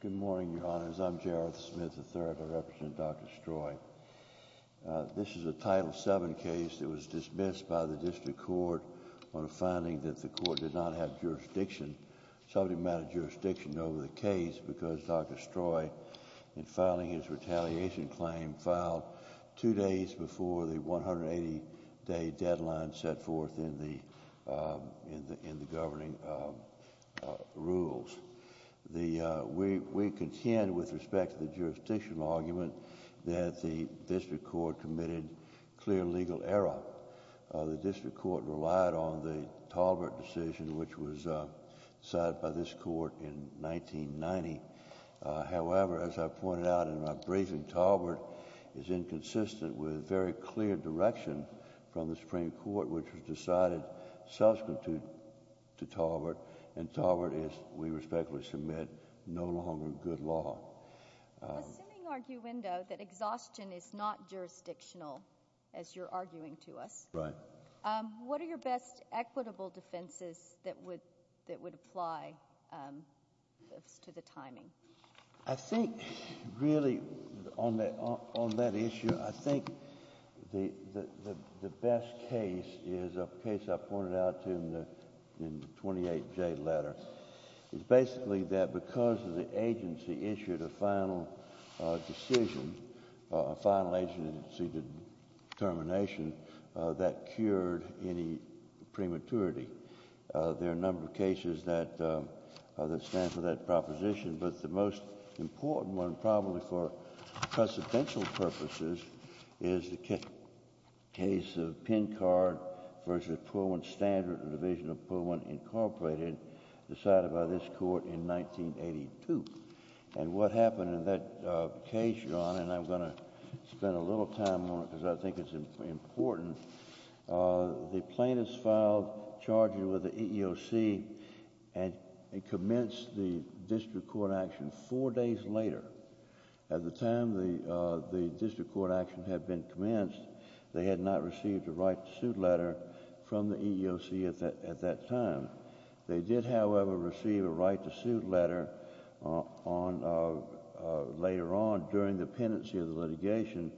Good morning, Your Honors. I'm Jareth Smith III. I represent Dr. Stroy. This is a Title VII case that was dismissed by the District Court on a finding that the Court did not have jurisdiction, subject matter jurisdiction, over the case because Dr. Stroy, in filing his retaliation claim, filed two days before the 180-day deadline set forth in the governing rules. We contend with respect to the jurisdictional argument that the District Court committed clear legal error. The District Court relied on the Talbert decision which was decided by this Court in 1990. However, as I pointed out in my briefing, Talbert is inconsistent with very clear direction from the Supreme Court which was decided subsequent to Talbert and Talbert is, we respectfully submit, no longer good law. Assuming, arguendo, that exhaustion is not jurisdictional as you're arguing to us. Right. What are your best equitable defenses that would apply to the timing? I think, really, on that issue, I think the best case is a case I pointed out in the 28J letter. It's basically that because the agency issued a final decision, a final agency determination, that cured any prematurity. There are a number of cases that stand for that proposition, but the most important one, probably for precedential purposes, is the case of Pincard v. Pullman Standard in the Division of Pullman, Incorporated, decided by this Court in 1982. And what happened in that case, John, and I'm going to spend a little time on it because I think it's important, the plaintiffs filed charges with the EEOC and commenced the District Court action four days later. At the time the District Court action had been commenced, they had not received a right to suit letter from the EEOC at that time. They did, however, receive a right to suit letter later on during the pendency of the litigation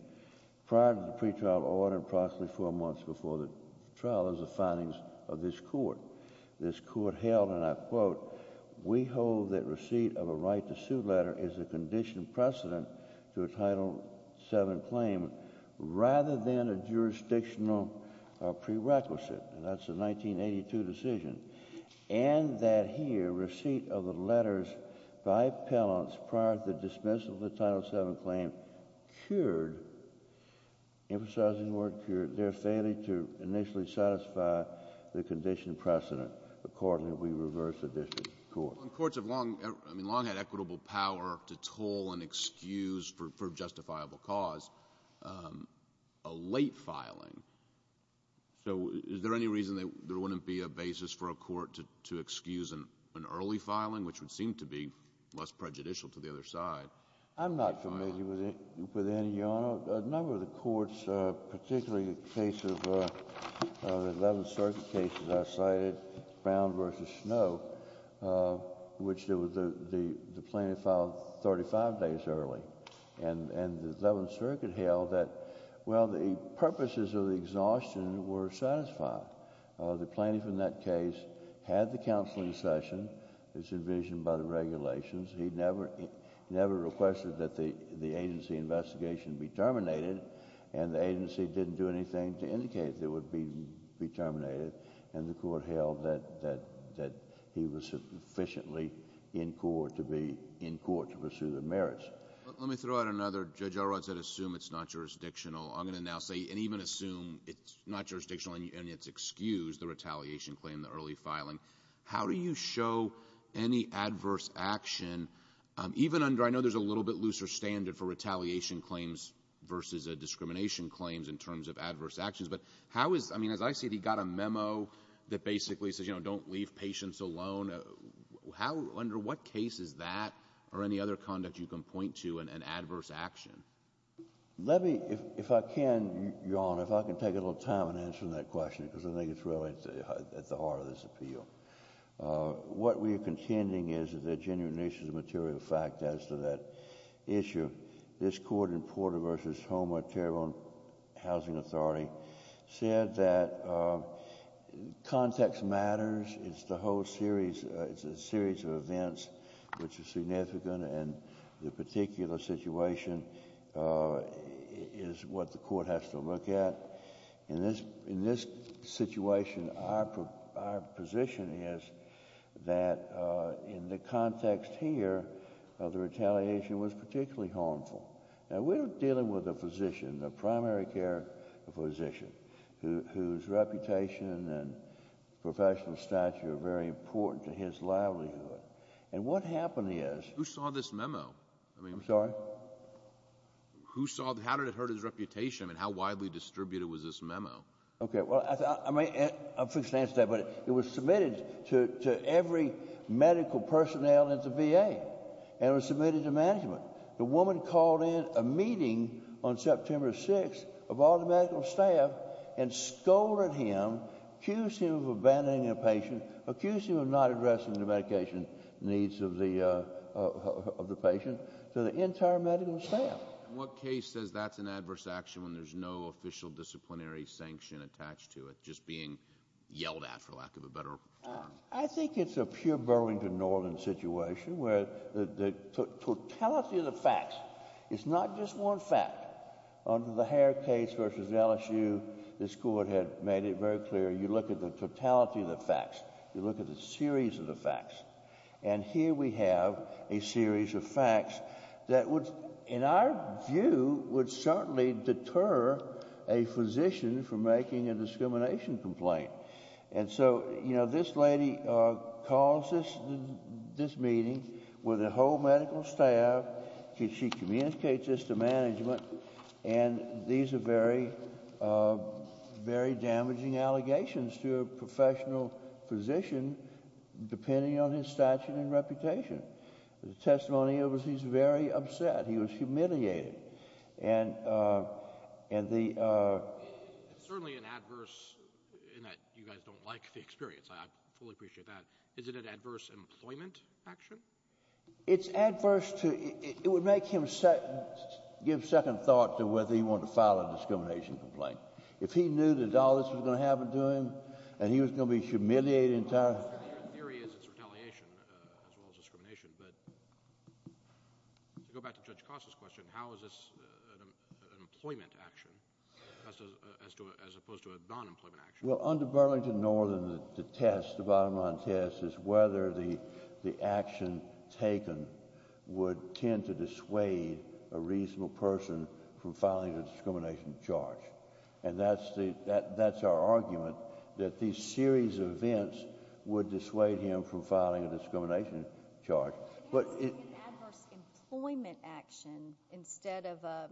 prior to the pretrial order and approximately four months before the trial as the findings of this Court. This Court held, and I quote, we hold that receipt of a right to suit letter is a condition precedent to a Title VII claim rather than a jurisdictional prerequisite. And that's a 1982 decision. And that here, receipt of the letters by appellants prior to the dismissal of the Title VII claim cured, emphasizing the word cured, their failure to initially satisfy the condition precedent accordingly we reverse the District Court. Courts have long, I mean, long had equitable power to toll and excuse for justifiable cause. A late filing, so is there any reason that there wouldn't be a basis for a court to excuse an early filing, which would seem to be less prejudicial to the other side? I'm not familiar with any, Your Honor. A number of the courts, particularly the case of the Eleventh Circuit case that I cited, Brown v. Snow, which the plaintiff filed 35 days early. And the Eleventh Circuit held that, well, the purposes of the exhaustion were satisfied. The plaintiff in that case had the counseling session that's envisioned by the regulations. He never requested that the agency investigation be terminated, and the agency didn't do anything to indicate that it would be terminated. And the Court held that he was sufficiently in court to pursue the merits. Let me throw out another. Judge Elrod said assume it's not jurisdictional. I'm going to excuse the retaliation claim, the early filing. How do you show any adverse action, even under, I know there's a little bit looser standard for retaliation claims versus a discrimination claims in terms of adverse actions, but how is, I mean, as I see it, he got a memo that basically says, you know, don't leave patients alone. Under what case is that or any other conduct you can point to an adverse action? Let me, if I can, Your Honor, if I can take a little time in answering that question, because I think it's really at the heart of this appeal. What we are contending is that there are genuine issues of material fact as to that issue. This Court in Porter v. Homer, Terrebonne Housing Authority, said that context matters. It's the whole series, it's a series of events which is significant, and the particular situation is what the Court has to look at. In this situation, our position is that in the context here, the retaliation was particularly harmful. Now, we're dealing with a physician, a primary care physician, whose reputation and professional stature are very important. How did it hurt his reputation? I mean, how widely distributed was this memo? Okay, well, I'll fix the answer to that, but it was submitted to every medical personnel at the VA, and it was submitted to management. The woman called in a meeting on September 6th of all the medical staff and scolded him, accused him of abandoning a patient, accused him of not addressing the medication needs of the patient, to the entire medical staff. And what case says that's an adverse action when there's no official disciplinary sanction attached to it, just being yelled at, for lack of a better term? I think it's a pure Burlington, Norlin situation, where the totality of the facts is not just one fact. Under the Hare case v. LSU, this Court had made very clear, you look at the totality of the facts, you look at the series of the facts, and here we have a series of facts that would, in our view, would certainly deter a physician from making a discrimination complaint. And so, you know, this lady calls this meeting, where the whole medical staff, she communicates this to management, and these are very, very damaging allegations to a professional physician, depending on his stature and reputation. The testimony was, he's very upset, he was humiliated. And, and the, certainly an adverse, in that you guys don't like the experience, I fully appreciate that, is it an adverse employment action? It's adverse to, it would make him second, give second thought to whether he wanted to file a discrimination complaint. If he knew that all this was going to happen to him, and he was going to be humiliated entirely. Your theory is it's retaliation as well as discrimination, but to go back to Judge Costa's question, how is this an employment action, as opposed to a non-employment action? Well, under Burlington, Norlin, the test, the bottom line test, is whether the action taken would tend to dissuade a reasonable person from filing a discrimination charge. And that's the, that, that's our argument, that these series of events would dissuade him from filing a discrimination charge. But it. It's an adverse employment action, instead of a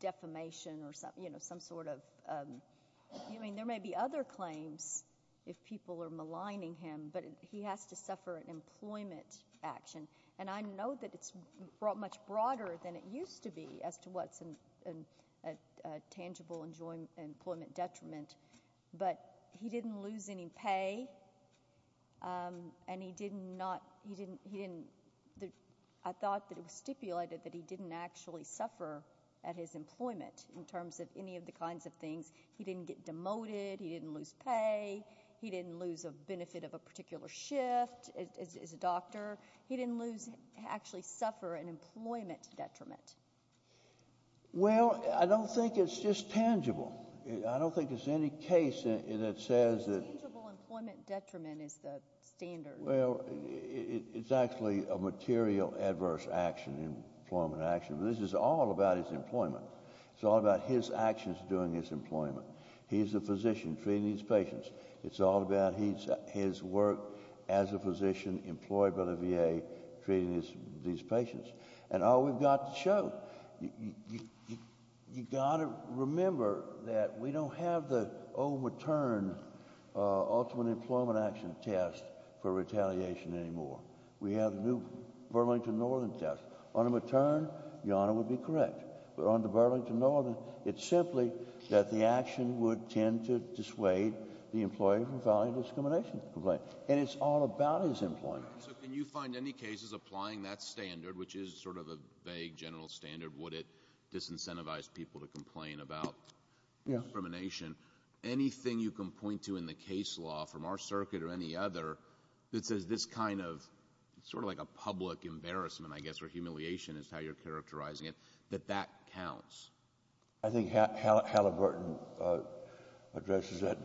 defamation or some, you know, some sort of, I mean, there may be other claims, if people are maligning him, but he has to suffer an employment action. And I know that it's brought much broader than it used to be, as to what's an, a tangible employment detriment. But he didn't lose any pay, and he did not, he didn't, he didn't, I thought that it was stipulated that he didn't actually suffer at his employment, in terms of any of the kinds of things. He didn't get demoted, he didn't lose pay, he didn't lose a benefit of a particular shift as a doctor, he didn't lose, actually suffer an employment detriment. Well, I don't think it's just tangible. I don't think there's any case that says that. Tangible employment detriment is the standard. Well, it's actually a material adverse action, employment action. This is all about his employment. It's all about his actions during his employment. He's a physician treating his as a physician, employed by the VA, treating these patients. And all we've got to show, you got to remember that we don't have the old matern, ultimate employment action test for retaliation anymore. We have the new Burlington Northern test. On a matern, your Honor would be correct. But on the Burlington Northern, it's simply that the and it's all about his employment. So can you find any cases applying that standard, which is sort of a vague general standard, would it disincentivize people to complain about discrimination? Anything you can point to in the case law from our circuit or any other that says this kind of sort of like a public embarrassment, I guess, or humiliation is how you're characterizing it, that that counts? I think Halliburton addresses that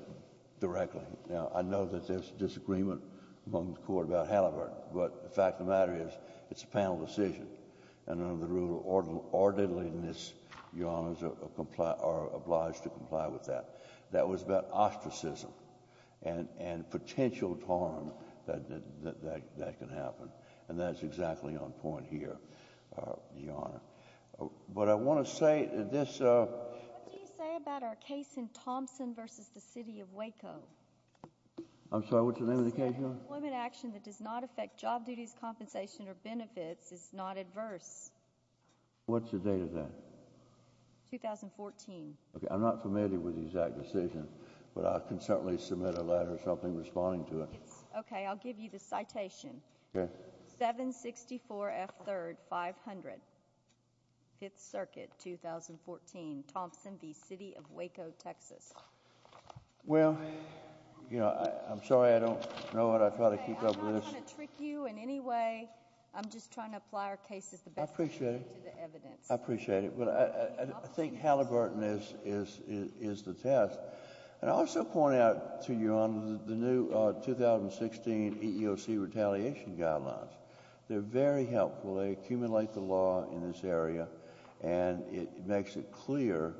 directly. Now, I know that there's a disagreement among the Court about Halliburton, but the fact of the matter is it's a panel decision. And under the rule of orderliness, your Honors are obliged to comply with that. That was about ostracism and potential harm that can happen. And that's exactly on point here, your Honor. But I want to say this. What do you say about our case in Thompson versus the city of Waco? I'm sorry, what's the name of the case? Employment action that does not affect job duties, compensation or benefits is not adverse. What's the date of that? 2014. OK, I'm not familiar with the exact decision, but I can certainly submit a letter or something responding to it. OK, I'll give you the citation. 764 F. 3rd, 500. 5th Circuit, 2014. Thompson v. City of Waco, Texas. Well, you know, I'm sorry, I don't know what I've got to keep up with. OK, I'm not going to trick you in any way. I'm just trying to apply our case as the best we can to the evidence. I appreciate it. But I think Halliburton is the test. And I also point out to you on the new 2016 EEOC retaliation guidelines. They're very helpful. They accumulate the law in this area and it makes it clear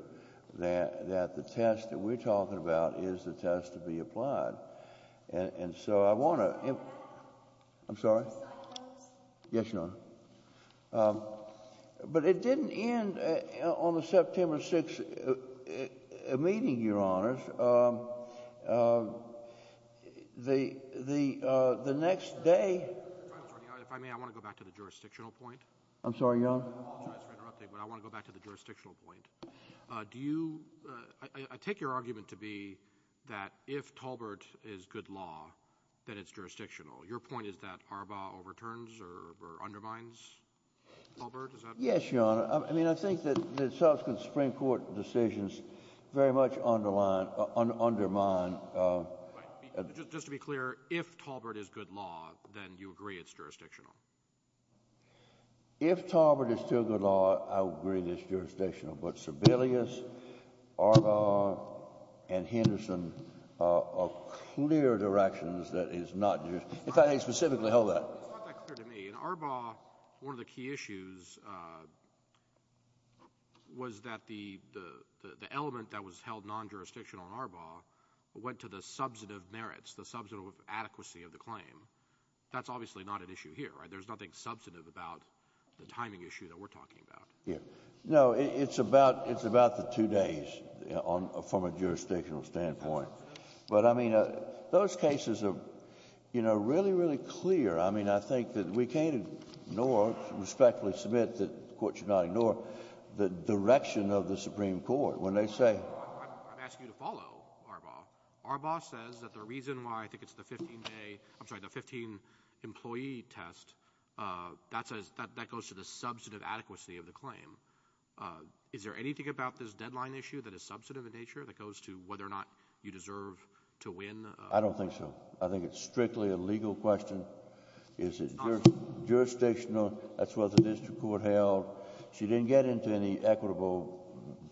that the test that we're talking about is the test to be applied. And so I want to. I'm sorry. Yes, Your Honor. But it didn't end on the September 6th meeting, Your Honor. The next day. If I may, I want to go back to the jurisdictional point. I'm sorry, Your Honor. I apologize for interrupting, but I want to go back to the jurisdictional point. Do you, I take your argument to be that if Talbert is good law, then it's jurisdictional. Your point is that Arbaugh overturns or undermines Talbert? Is that right? Yes, Your Honor. I mean, I think that the subsequent Supreme Court decisions very much underline, undermine. Just to be clear, if Talbert is good law, then you agree it's jurisdictional? If Talbert is still good law, I would agree it's jurisdictional. But Sebelius, Arbaugh, and Henderson are clear directions that it's not jurisdictional. If I may specifically hold that. It's not that clear to me. In Arbaugh, one of the key issues was that the element that was held non-jurisdictional in Arbaugh went to the substantive merits, the substantive adequacy of the claim. That's obviously not an issue here, right? There's nothing substantive about the timing issue that we're talking about. Yeah. No, it's about the two days from a jurisdictional standpoint. But, I mean, those cases are, you know, really, really clear. I mean, I think that we can't ignore, respectfully submit that the Court should not ignore, the direction of the Supreme Court when they say — I'm asking you to follow Arbaugh. Arbaugh says that the reason why I think it's the 15-day — I'm sorry, the 15-employee test, that goes to the substantive adequacy of the claim. Is there anything about this deadline issue that is substantive in nature that goes to whether or not you deserve to win? I don't think so. I think it's strictly a legal question. Is it jurisdictional? That's what the district court held. She didn't get into any equitable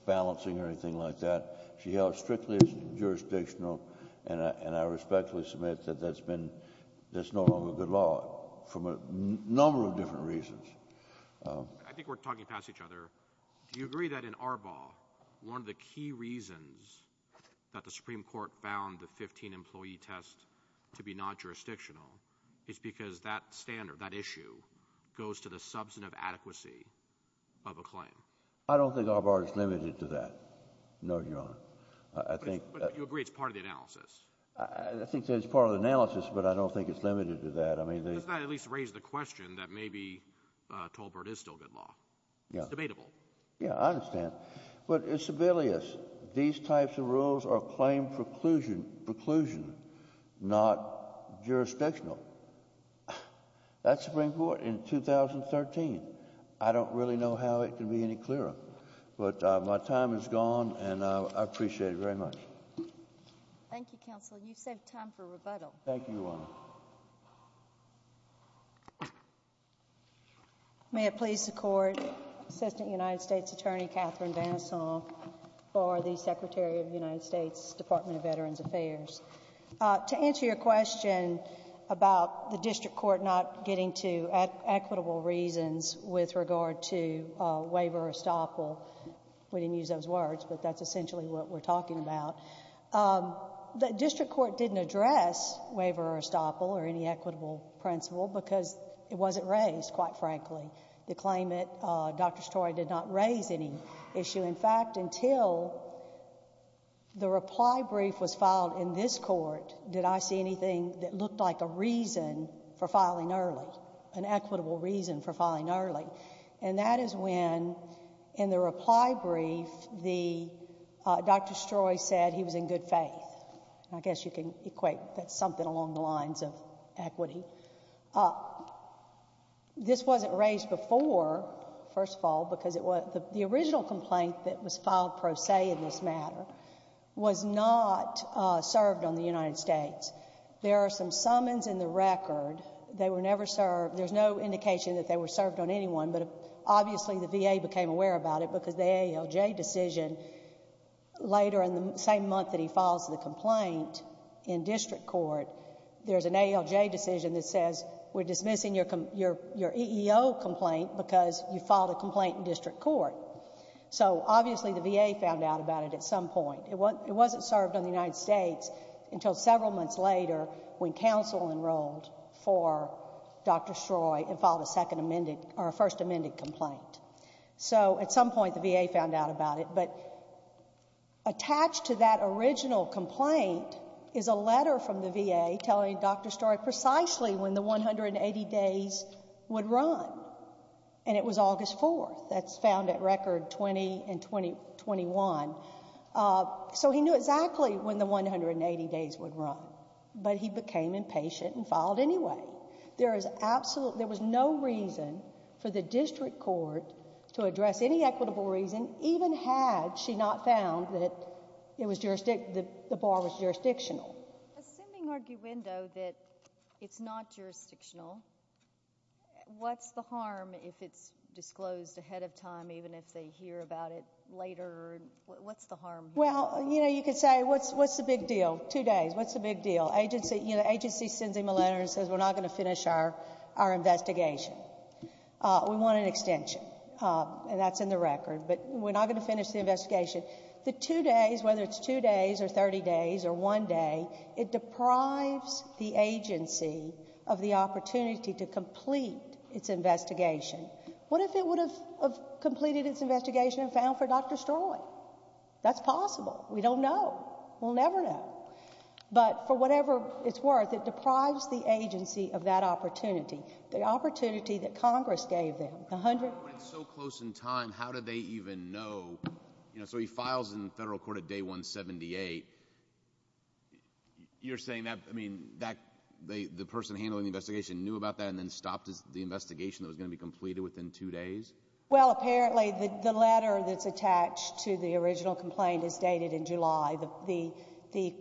balancing or anything like that. She held it strictly jurisdictional, and I respectfully submit that that's no longer good law, from a number of different reasons. I think we're talking past each other. Do you agree that in Arbaugh, one of the key reasons that the Supreme Court found the 15-employee test to be not jurisdictional is because that standard, that issue, goes to the substantive adequacy of a claim? I don't think Arbaugh is limited to that, no, Your Honor. I think — But you agree it's part of the analysis. I think it's part of the analysis, but I don't think it's limited to that. Doesn't that at least raise the question that maybe Tolbert is still good law? It's debatable. Yeah, I understand. But it's sibilious. These types of rules are claim preclusion, not jurisdictional. That's the Supreme Court in 2013. I don't really know how it can be any clearer. But my time is gone, and I appreciate it very much. Thank you, Counsel. You've saved time for rebuttal. Thank you, Your Honor. May it please the Court, Assistant United States Attorney Catherine Vanesson for the Secretary of the United States Department of Veterans Affairs. To answer your question about the district court not getting to equitable reasons with regard to waiver or estoppel — we didn't use those words, but that's essentially what we're talking about. The district court didn't address waiver or estoppel or any equitable principle because it wasn't raised, quite frankly. The claimant, Dr. Story, did not raise any issue. In fact, until the reply brief was filed in this court, did I see anything that looked like a reason for filing early, an equitable reason for filing early. And that is when, in the reply brief, Dr. Story said he was in good faith. I guess you can equate that something along the lines of equity. This wasn't raised before, first of all, because the original complaint that was filed pro se in this matter was not served on the United States. There are some summons in the record. They were never served. There's no indication that they were served on anyone, but obviously the VA became aware about it because the ALJ decision, later in the same month that he files the complaint in district court, there's an ALJ decision that says we're dismissing your EEO complaint because you filed a complaint in district court. So obviously the VA found out about it at some point. It wasn't served on the United States until several months later when counsel enrolled for Dr. Stroy and filed a second amended, or a first amended complaint. So at some point the VA found out about it, but attached to that original complaint is a letter from the VA telling Dr. Stroy precisely when the 180 days would run. And it was August 4th. That's found at record 20 and 21. So he knew exactly when the 180 days would run, but he became impatient and filed anyway. There was no reason for the district court to address any equitable reason, even had she not found that the bar was jurisdictional. Assuming arguendo that it's not jurisdictional, what's the harm if it's disclosed ahead of time, even if they hear about it later? What's the harm? Well, you know, you could say, what's the big deal? Two days, what's the big deal? Agency, you know, agency sends him a letter and says, we're not going to finish our investigation. We want an extension and that's in the record, but we're not going to finish the investigation. The two days, whether it's two days or 30 days or one day, it deprives the agency of the opportunity to complete its investigation. What if it would have completed its investigation and found for Dr. Stroy? That's possible. We don't know. We'll never know. But for whatever it's worth, it deprives the agency of that opportunity, the opportunity that Congress gave them. A hundred. When it's so close in time, how do they even know? You know, so he files in federal court at day 178. You're saying that, I mean, that they, the person handling the investigation knew about that and then stopped the investigation that was going to be completed within two days. Well, apparently the letter that's attached to the original complaint is dated in July. The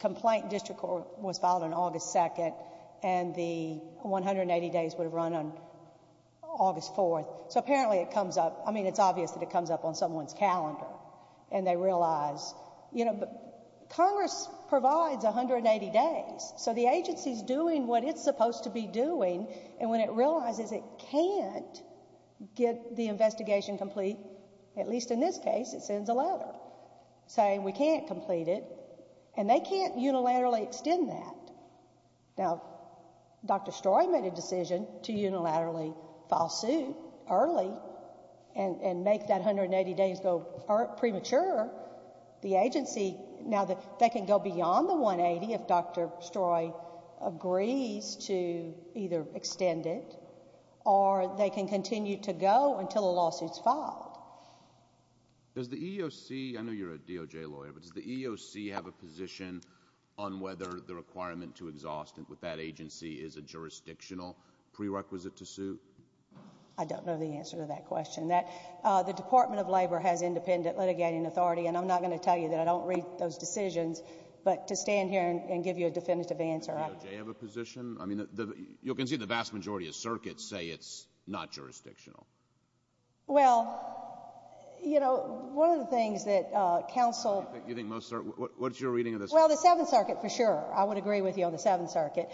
complaint district court was filed on August 2nd and the 180 days would have run on August 4th. So apparently it comes up. I mean, it's obvious that it comes up on someone's calendar and they realize, you know, Congress provides 180 days. So the agency's doing what it's supposed to be doing. And when it realizes it can't get the investigation complete, at least in this case, it sends a letter. Saying we can't complete it and they can't unilaterally extend that. Now, Dr. Stroy made a decision to unilaterally file suit early and make that 180 days go premature. The agency, now they can go beyond the 180 if Dr. Stroy agrees to either extend it or they can continue to go until the lawsuit's filed. Does the EEOC, I know you're a DOJ lawyer, but does the EEOC have a position on whether the requirement to exhaust with that agency is a jurisdictional prerequisite to suit? I don't know the answer to that question. The Department of Labor has independent litigating authority and I'm not going to tell you that. I don't read those decisions. But to stand here and give you a definitive answer. Does the EEOC have a position? I mean, you can see the vast majority of circuits say it's not jurisdictional. Well, you know, one of the things that counsel... You think most, what's your reading of this? Well, the Seventh Circuit for sure. I would agree with you on the Seventh Circuit.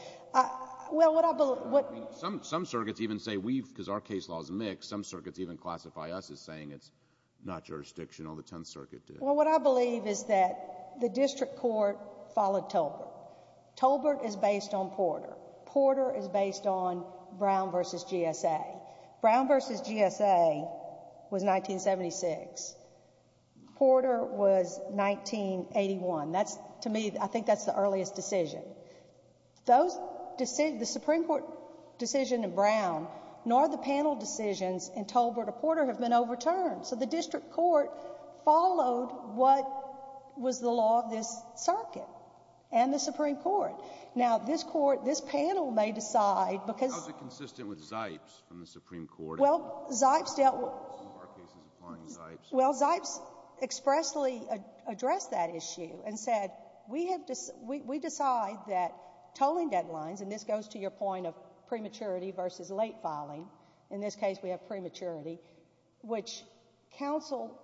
Well, what I believe... Some circuits even say we've, because our case law is mixed, some circuits even classify us as saying it's not jurisdictional. The Tenth Circuit did. Well, what I believe is that the district court followed Tolbert. Tolbert is based on Porter. Porter is based on Brown versus GSA. Brown versus GSA was 1976. Porter was 1981. That's, to me, I think that's the earliest decision. Those decisions, the Supreme Court decision in Brown, nor the panel decisions in Tolbert or Porter have been overturned. So the district court followed what was the law of this circuit and the Supreme Court. Now, this court, this panel may decide because... Well, Zipes expressly addressed that issue and said, we decide that tolling deadlines, and this goes to your point of prematurity versus late filing. In this case, we have prematurity, which counsel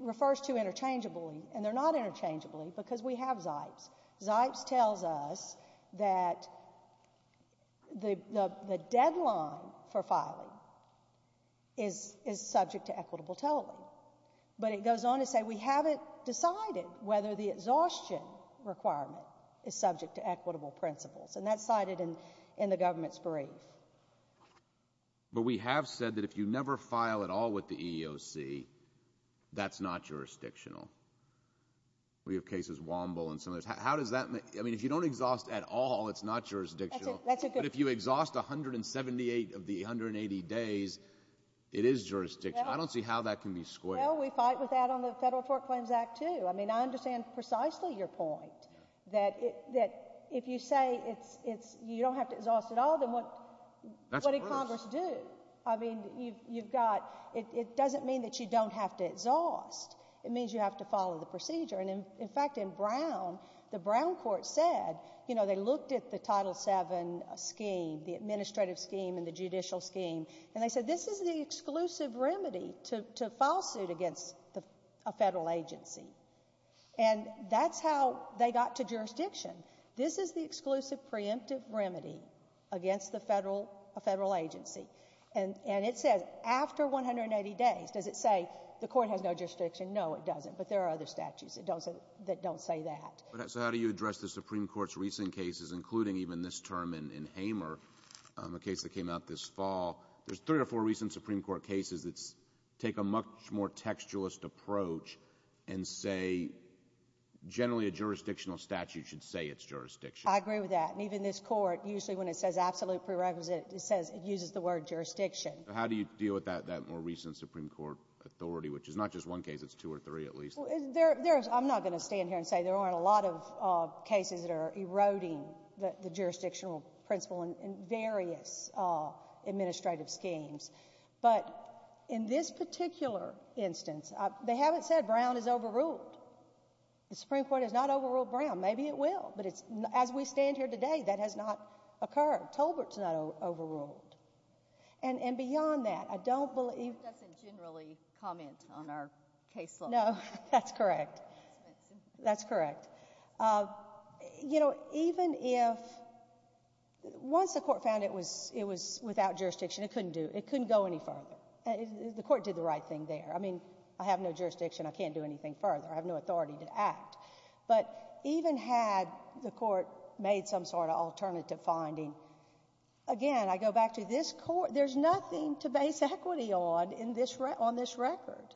refers to interchangeably, and they're not interchangeably because we have Zipes. Zipes tells us that the deadline for filing is subject to equitable tolling, but it goes on to say, we haven't decided whether the exhaustion requirement is subject to equitable principles, and that's cited in the government's brief. But we have said that if you never file at all with the EEOC, that's not jurisdictional. We have cases, Womble and some others. How does that make... I mean, if you don't exhaust at all, it's not jurisdictional. That's a good point. But if you exhaust 178 of the 180 days, it is jurisdictional. I don't see how that can be squared. Well, we fight with that on the Federal Tort Claims Act too. I mean, I understand precisely your point, that if you say you don't have to exhaust at all, then what did Congress do? That's the worst. I mean, you've got... It doesn't mean that you don't have to exhaust. It means you have to follow the procedure. And in fact, in Brown, the Brown court said, you know, they looked at the Title VII scheme, the administrative scheme and the judicial scheme, and they said, this is the exclusive remedy to file suit against a federal agency. And that's how they got to jurisdiction. This is the exclusive preemptive remedy against a federal agency. And it says, after 180 days, does it say the court has no jurisdiction? No, it doesn't. But there are other statutes that don't say that. So how do you address the Supreme Court's recent cases, including even this term in Hamer, a case that came out this fall? There's three or four recent Supreme Court cases that take a much more textualist approach and say, generally, a jurisdictional statute should say it's jurisdictional. I agree with that. And even this court, usually when it says absolute prerequisite, it says it uses the word jurisdiction. How do you deal with that more recent Supreme Court authority, which is not just one case, it's two or three at least? I'm not going to stand here and say there aren't a lot of cases that are eroding the jurisdictional principle in various administrative schemes. But in this particular instance, they haven't said Brown is overruled. The Supreme Court has not overruled Brown. Maybe it will. But as we stand here today, that has not occurred. Tolbert's not overruled. And beyond that, I don't believe— It doesn't generally comment on our case law. No, that's correct. That's correct. You know, even if—once the court found it was without jurisdiction, it couldn't do—it couldn't go any further. The court did the right thing there. I mean, I have no jurisdiction. I can't do anything further. I have no authority to act. But even had the court made some sort of alternative finding, again, I go back to this court. There's nothing to base equity on in this—on this record.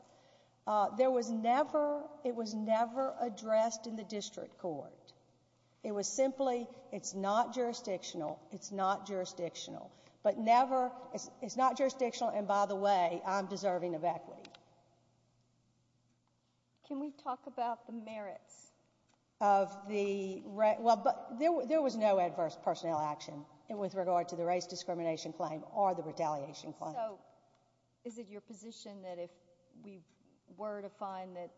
There was never—it was never addressed in the district court. It was simply, it's not jurisdictional. It's not jurisdictional. But never—it's not jurisdictional, and by the way, I'm deserving of equity. Can we talk about the merits of the— Well, but there was no adverse personnel action with regard to the race discrimination claim or the retaliation claim. So, is it your position that if we were to find that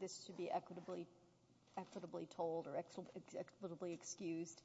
this should be equitably— equitably told or equitably excused,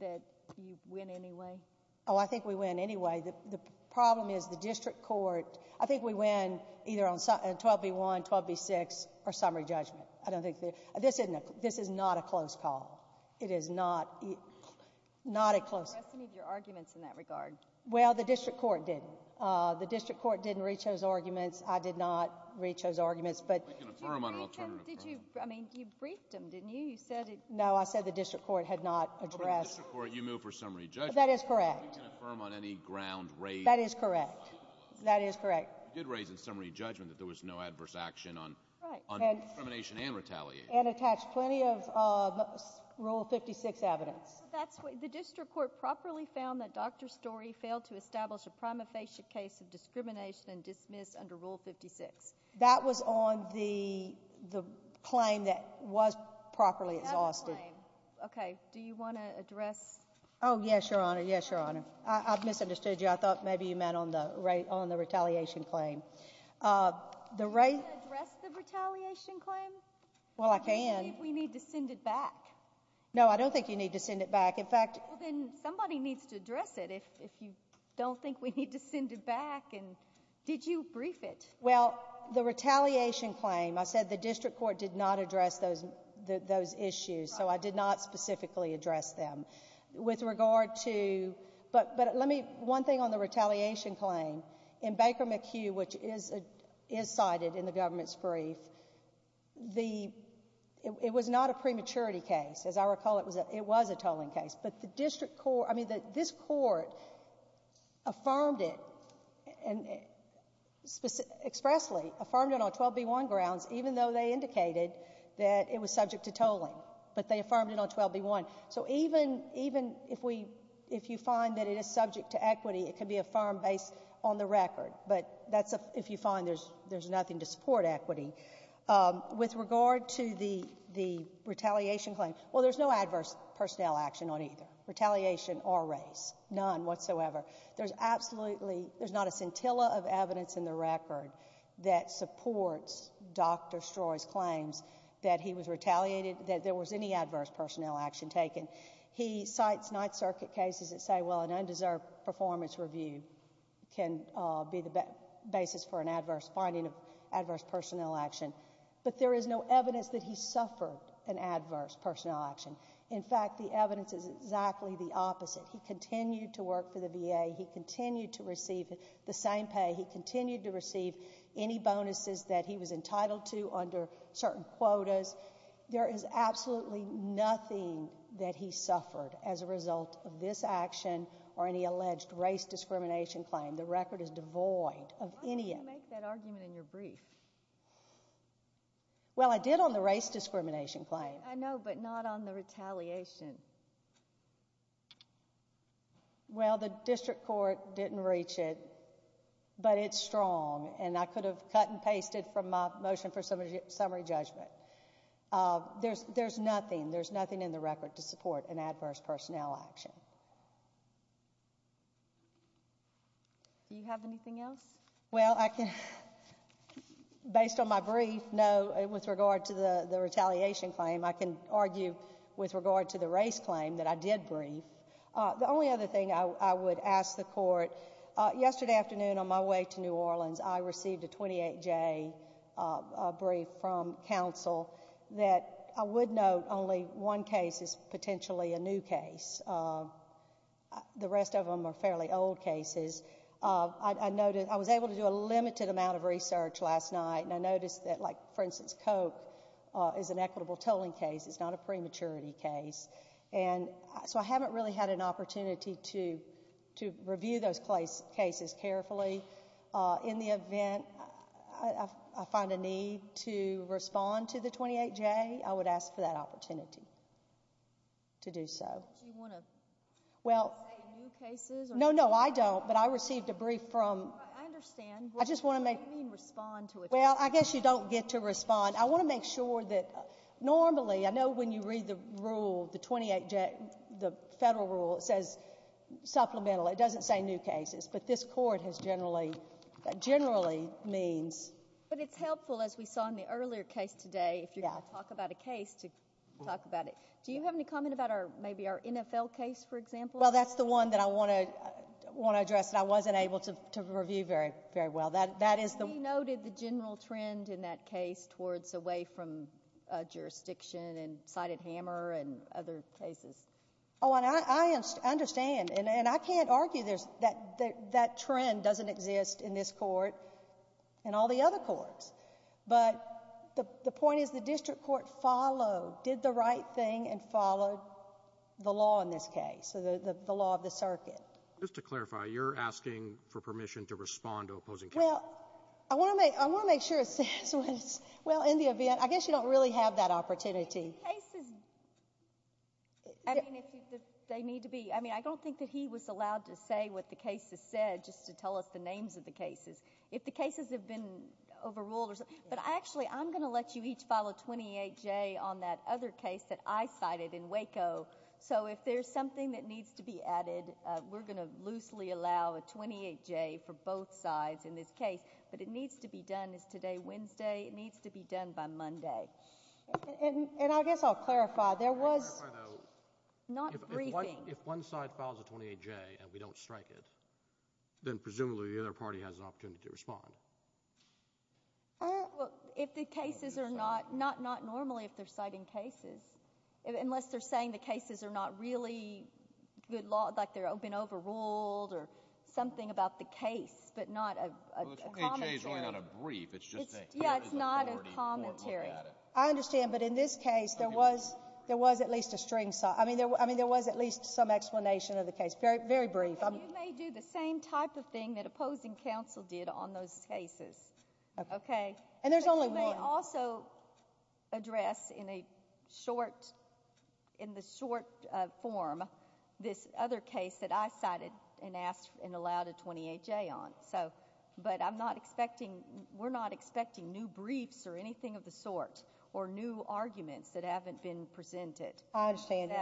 that you win anyway? Oh, I think we win anyway. The problem is the district court—I think we win either on 12b-1, 12b-6, or summary judgment. I don't think—this isn't—this is not a close call. It is not—not a close— You didn't address any of your arguments in that regard. Well, the district court did. The district court didn't reach those arguments. I did not reach those arguments, but— We can affirm on an alternative— Did you—I mean, you briefed them, didn't you? You said it— No, I said the district court had not addressed— For the district court, you move for summary judgment. That is correct. We can affirm on any ground raised— That is correct. That is correct. You did raise in summary judgment that there was no adverse action on— Right. —on discrimination and retaliation. And attached plenty of Rule 56 evidence. That's what—the district court properly found that Dr. Story failed to establish a prima facie case of discrimination and dismiss under Rule 56. That was on the—the claim that was properly exhausted. Okay, do you want to address— Oh, yes, Your Honor. Yes, Your Honor. I misunderstood you. I thought maybe you meant on the—on the retaliation claim. The right— Can you address the retaliation claim? Well, I can. Do you think we need to send it back? No, I don't think you need to send it back. In fact— Well, then somebody needs to address it if you don't think we need to send it back. And did you brief it? Well, the retaliation claim, I said the district court did not address those issues. So I did not specifically address them. With regard to—but let me—one thing on the retaliation claim, in Baker McHugh, which is cited in the government's brief, the—it was not a prematurity case. As I recall, it was a tolling case. But the district court—I mean, this court affirmed it, expressly affirmed it on 12b-1 grounds, even though they indicated that it was subject to tolling. But they affirmed it on 12b-1. So even if we—if you find that it is subject to equity, it can be affirmed based on the record. But that's if you find there's nothing to support equity. With regard to the retaliation claim, well, there's no adverse personnel action on either, retaliation or race, none whatsoever. There's absolutely—there's not a scintilla of evidence in the record that supports Dr. Stroy's claims that he was retaliated, that there was any adverse personnel action taken. He cites Ninth Circuit cases that say, well, an undeserved performance review can be the basis for an adverse—finding of adverse personnel action. But there is no evidence that he suffered an adverse personnel action. In fact, the evidence is exactly the opposite. He continued to work for the VA. He continued to receive the same pay. He continued to receive any bonuses that he was entitled to under certain quotas. There is absolutely nothing that he suffered as a result of this action or any alleged race discrimination claim. The record is devoid of any— Why didn't you make that argument in your brief? Well, I did on the race discrimination claim. I know, but not on the retaliation. Well, the district court didn't reach it, but it's strong, and I could have cut and pasted from my motion for summary judgment. There's nothing. There's nothing in the record to support an adverse personnel action. Do you have anything else? Well, I can—based on my brief, no. With regard to the retaliation claim, I can argue with regard to the race claim that I did brief. The only other thing I would ask the court, yesterday afternoon on my way to New Orleans, I received a 28-J brief from counsel that I would note only one case is potentially a new case. The rest of them are fairly old cases. I was able to do a limited amount of research last night, and I noticed that, like, for instance, Coke is an equitable tolling case. It's not a prematurity case, and so I haven't really had an opportunity to review those cases carefully. In the event I find a need to respond to the 28-J, I would ask for that opportunity to do so. Do you want to say new cases? No, no, I don't, but I received a brief from— I understand, but what do you mean respond to a case? Well, I guess you don't get to respond. I want to make sure that normally— I know when you read the rule, the 28-J, the federal rule, it says supplemental. It doesn't say new cases, but this Court has generally— generally means— But it's helpful, as we saw in the earlier case today, if you're going to talk about a case, to talk about it. Do you have any comment about maybe our NFL case, for example? Well, that's the one that I want to address that I wasn't able to review very well. That is the— We noted the general trend in that case towards away from jurisdiction and cited hammer and other cases. Oh, and I understand, and I can't argue that trend doesn't exist in this Court and all the other courts, but the point is the district court followed, did the right thing and followed the law in this case, so the law of the circuit. Just to clarify, you're asking for permission to respond to opposing cases? Well, I want to make sure it says what it says. Well, in the event— I guess you don't really have that opportunity. In cases, I mean, if they need to be— I don't think that he was allowed to say what the case has said just to tell us the names of the cases. If the cases have been overruled or something— But actually, I'm going to let you each file a 28-J on that other case that I cited in Waco, so if there's something that needs to be added, we're going to loosely allow a 28-J for both sides in this case, but it needs to be done. It's today, Wednesday. It needs to be done by Monday. And I guess I'll clarify. There was— Can I clarify, though? Not briefing. If one side files a 28-J and we don't strike it, then presumably the other party has an opportunity to respond. Well, if the cases are not— not normally if they're citing cases, unless they're saying the cases are not really good law— like they've been overruled or something about the case, but not a commentary. Well, a 28-J is really not a brief. It's just a— Yeah, it's not a commentary. I understand, but in this case, there was at least a string— I mean, there was at least some explanation of the case. Very brief. You may do the same type of thing that opposing counsel did on those cases, okay? And there's only one. But you may also address in a short— in the short form this other case that I cited and asked and allowed a 28-J on. So, but I'm not expecting— we're not expecting new briefs or anything of the sort or new arguments that haven't been presented. I understand.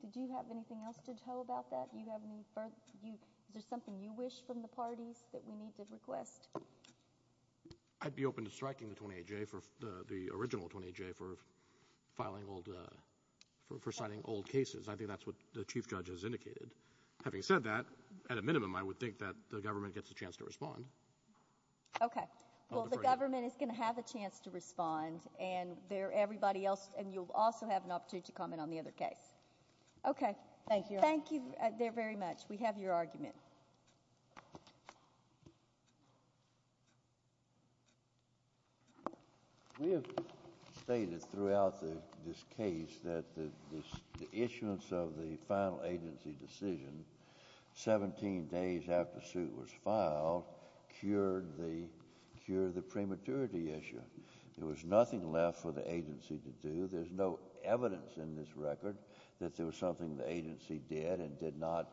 Did you have anything else to tell about that? Do you have any further— is there something you wish from the parties that we need to request? I'd be open to striking the 28-J for— the original 28-J for filing old— for citing old cases. I think that's what the Chief Judge has indicated. Having said that, at a minimum, I would think that the government gets a chance to respond. Okay. Well, the government is going to have a chance to respond, and everybody else— and you'll also have an opportunity to comment on the other case. Okay. Thank you. Thank you there very much. We have your argument. We have stated throughout this case that the issuance of the final agency decision 17 days after suit was filed cured the— cured the prematurity issue. There was nothing left for the agency to do. There's no evidence in this record that there was something the agency did and did not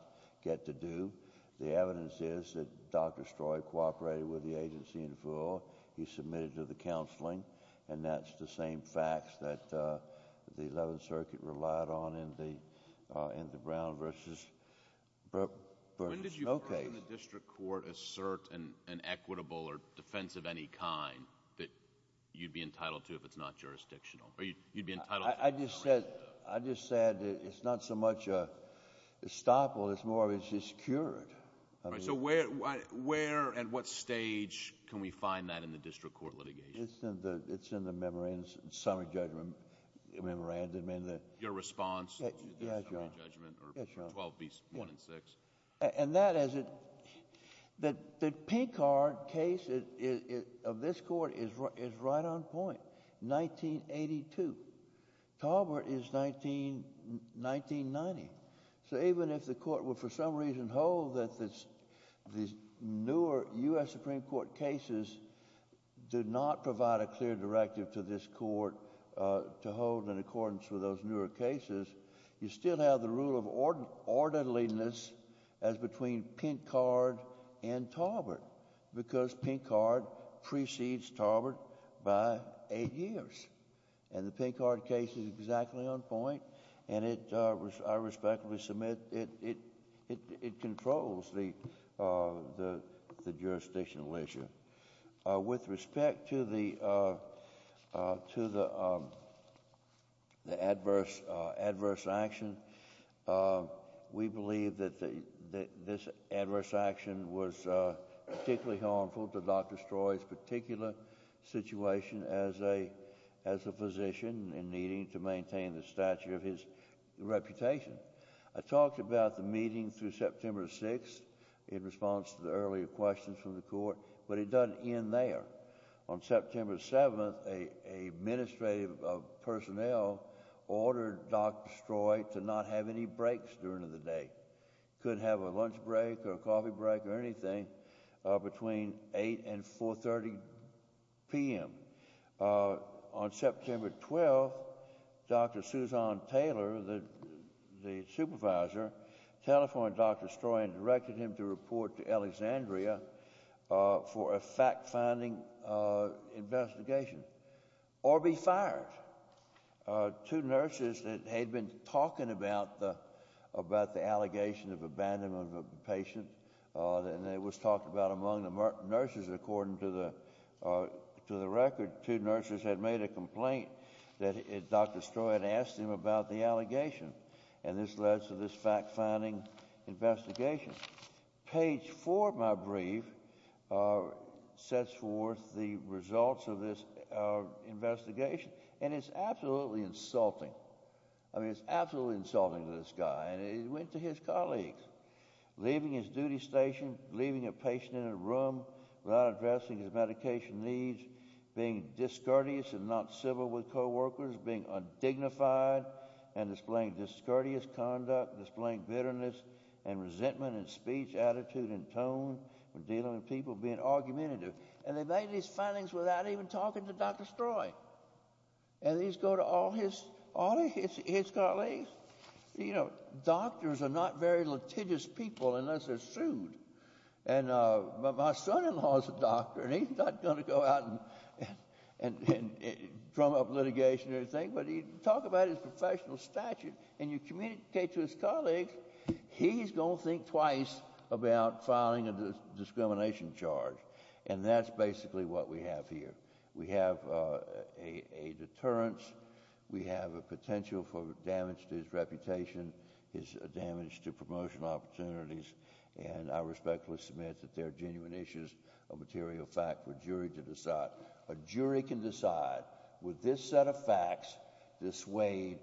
get to do. The evidence is that Dr. Stroy cooperated with the agency in full. He submitted to the counseling, and that's the same facts that the 11th Circuit relied on in the— in the Brown versus— When did you hear in the district court assert an equitable or defense of any kind that you'd be entitled to if it's not jurisdictional? Or you'd be entitled— I just said— I just said it's not so much a estoppel. It's more of it's just cured. All right. So where— where and what stage can we find that in the district court litigation? It's in the— it's in the memorandum— summary judgment memorandum in the— Your response to the summary judgment or 12B1 and 6. And that is it— that the Pinkard case of this court is right on point. 1982. Talbert is 1990. So even if the court would for some reason hold that this— these newer U.S. Supreme Court cases did not provide a clear directive to this court to hold in accordance with those newer cases, you still have the rule of orderliness as between Pinkard and Talbert because Pinkard precedes Talbert by eight years. And the Pinkard case is exactly on point. And it— I respectfully submit it controls the jurisdictional issue. With respect to the— to the adverse— adverse action, we believe that this adverse action was particularly harmful to Dr. Stroy's particular situation as a— as a physician and needing to maintain the stature of his reputation. I talked about the meeting through September 6th in response to the earlier questions from the court, but it doesn't end there. On September 7th, a— a administrative personnel ordered Dr. Stroy to not have any breaks during the day. Couldn't have a lunch break or a coffee break or anything between 8 and 4 30 p.m. On September 12th, Dr. Suzanne Taylor, the— the supervisor, telephoned Dr. Stroy and directed him to report to Alexandria for a fact-finding investigation or be fired. Two nurses that had been talking about the— about the allegation of abandonment of a patient, and it was talked about among the nurses, according to the— to the record, two nurses had made a complaint that Dr. Stroy had asked him about the allegation. And this led to this fact-finding investigation. Page four of my brief sets forth the results of this investigation, and it's absolutely insulting. I mean, it's absolutely insulting to this guy, and it went to his colleagues. Leaving his duty station, leaving a patient in a room without addressing his medication needs, being discourteous and not civil with co-workers, being undignified and displaying discourteous conduct, displaying bitterness and resentment in speech, attitude, and tone when dealing with people, being argumentative. And they made these findings without even talking to Dr. Stroy. And these go to all his— all of his colleagues. You know, doctors are not very litigious people unless they're sued. And my son-in-law's a doctor, and he's not going to go out and drum up litigation or anything, but he— talk about his professional stature, and you communicate to his colleagues, he's going to think twice about filing a discrimination charge. And that's basically what we have here. We have a deterrence. We have a potential for damage to his reputation, his damage to promotional opportunities. And I respectfully submit that there are genuine issues of material fact for a jury to decide. A jury can decide, would this set of facts dissuade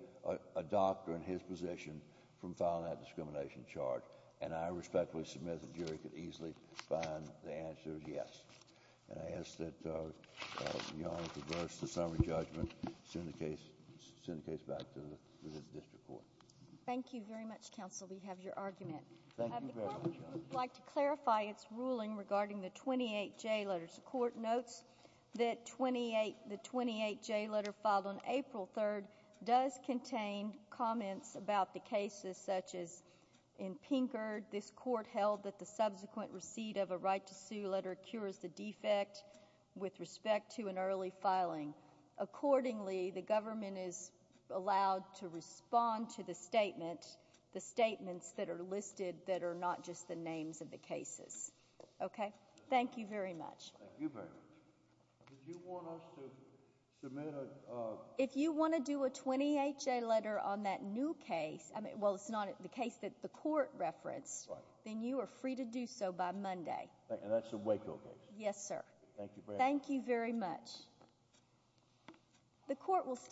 a doctor in his position from filing that discrimination charge? And I respectfully submit the jury could easily find the answer is yes. And I ask that your Honor reverse the summary judgment, send the case back to the district court. Thank you very much, counsel. We have your argument. Thank you very much, Your Honor. The court would like to clarify its ruling regarding the 28J letters. The court notes that 28— the 28J letter filed on April 3rd does contain comments about the cases such as in Pinkard, this court held that the subsequent receipt of a right to sue letter cures the defect with respect to an early filing. Accordingly, the government is allowed to respond to the statement, the statements that are listed that are not just the names of the cases. Okay? Thank you very much. Thank you very much. Did you want us to submit a... If you want to do a 28J letter on that new case, I mean, well, it's not the case that the court referenced, then you are free to do so by Monday. And that's a Waco case? Yes, sir. Thank you very much. Thank you very much. The court will...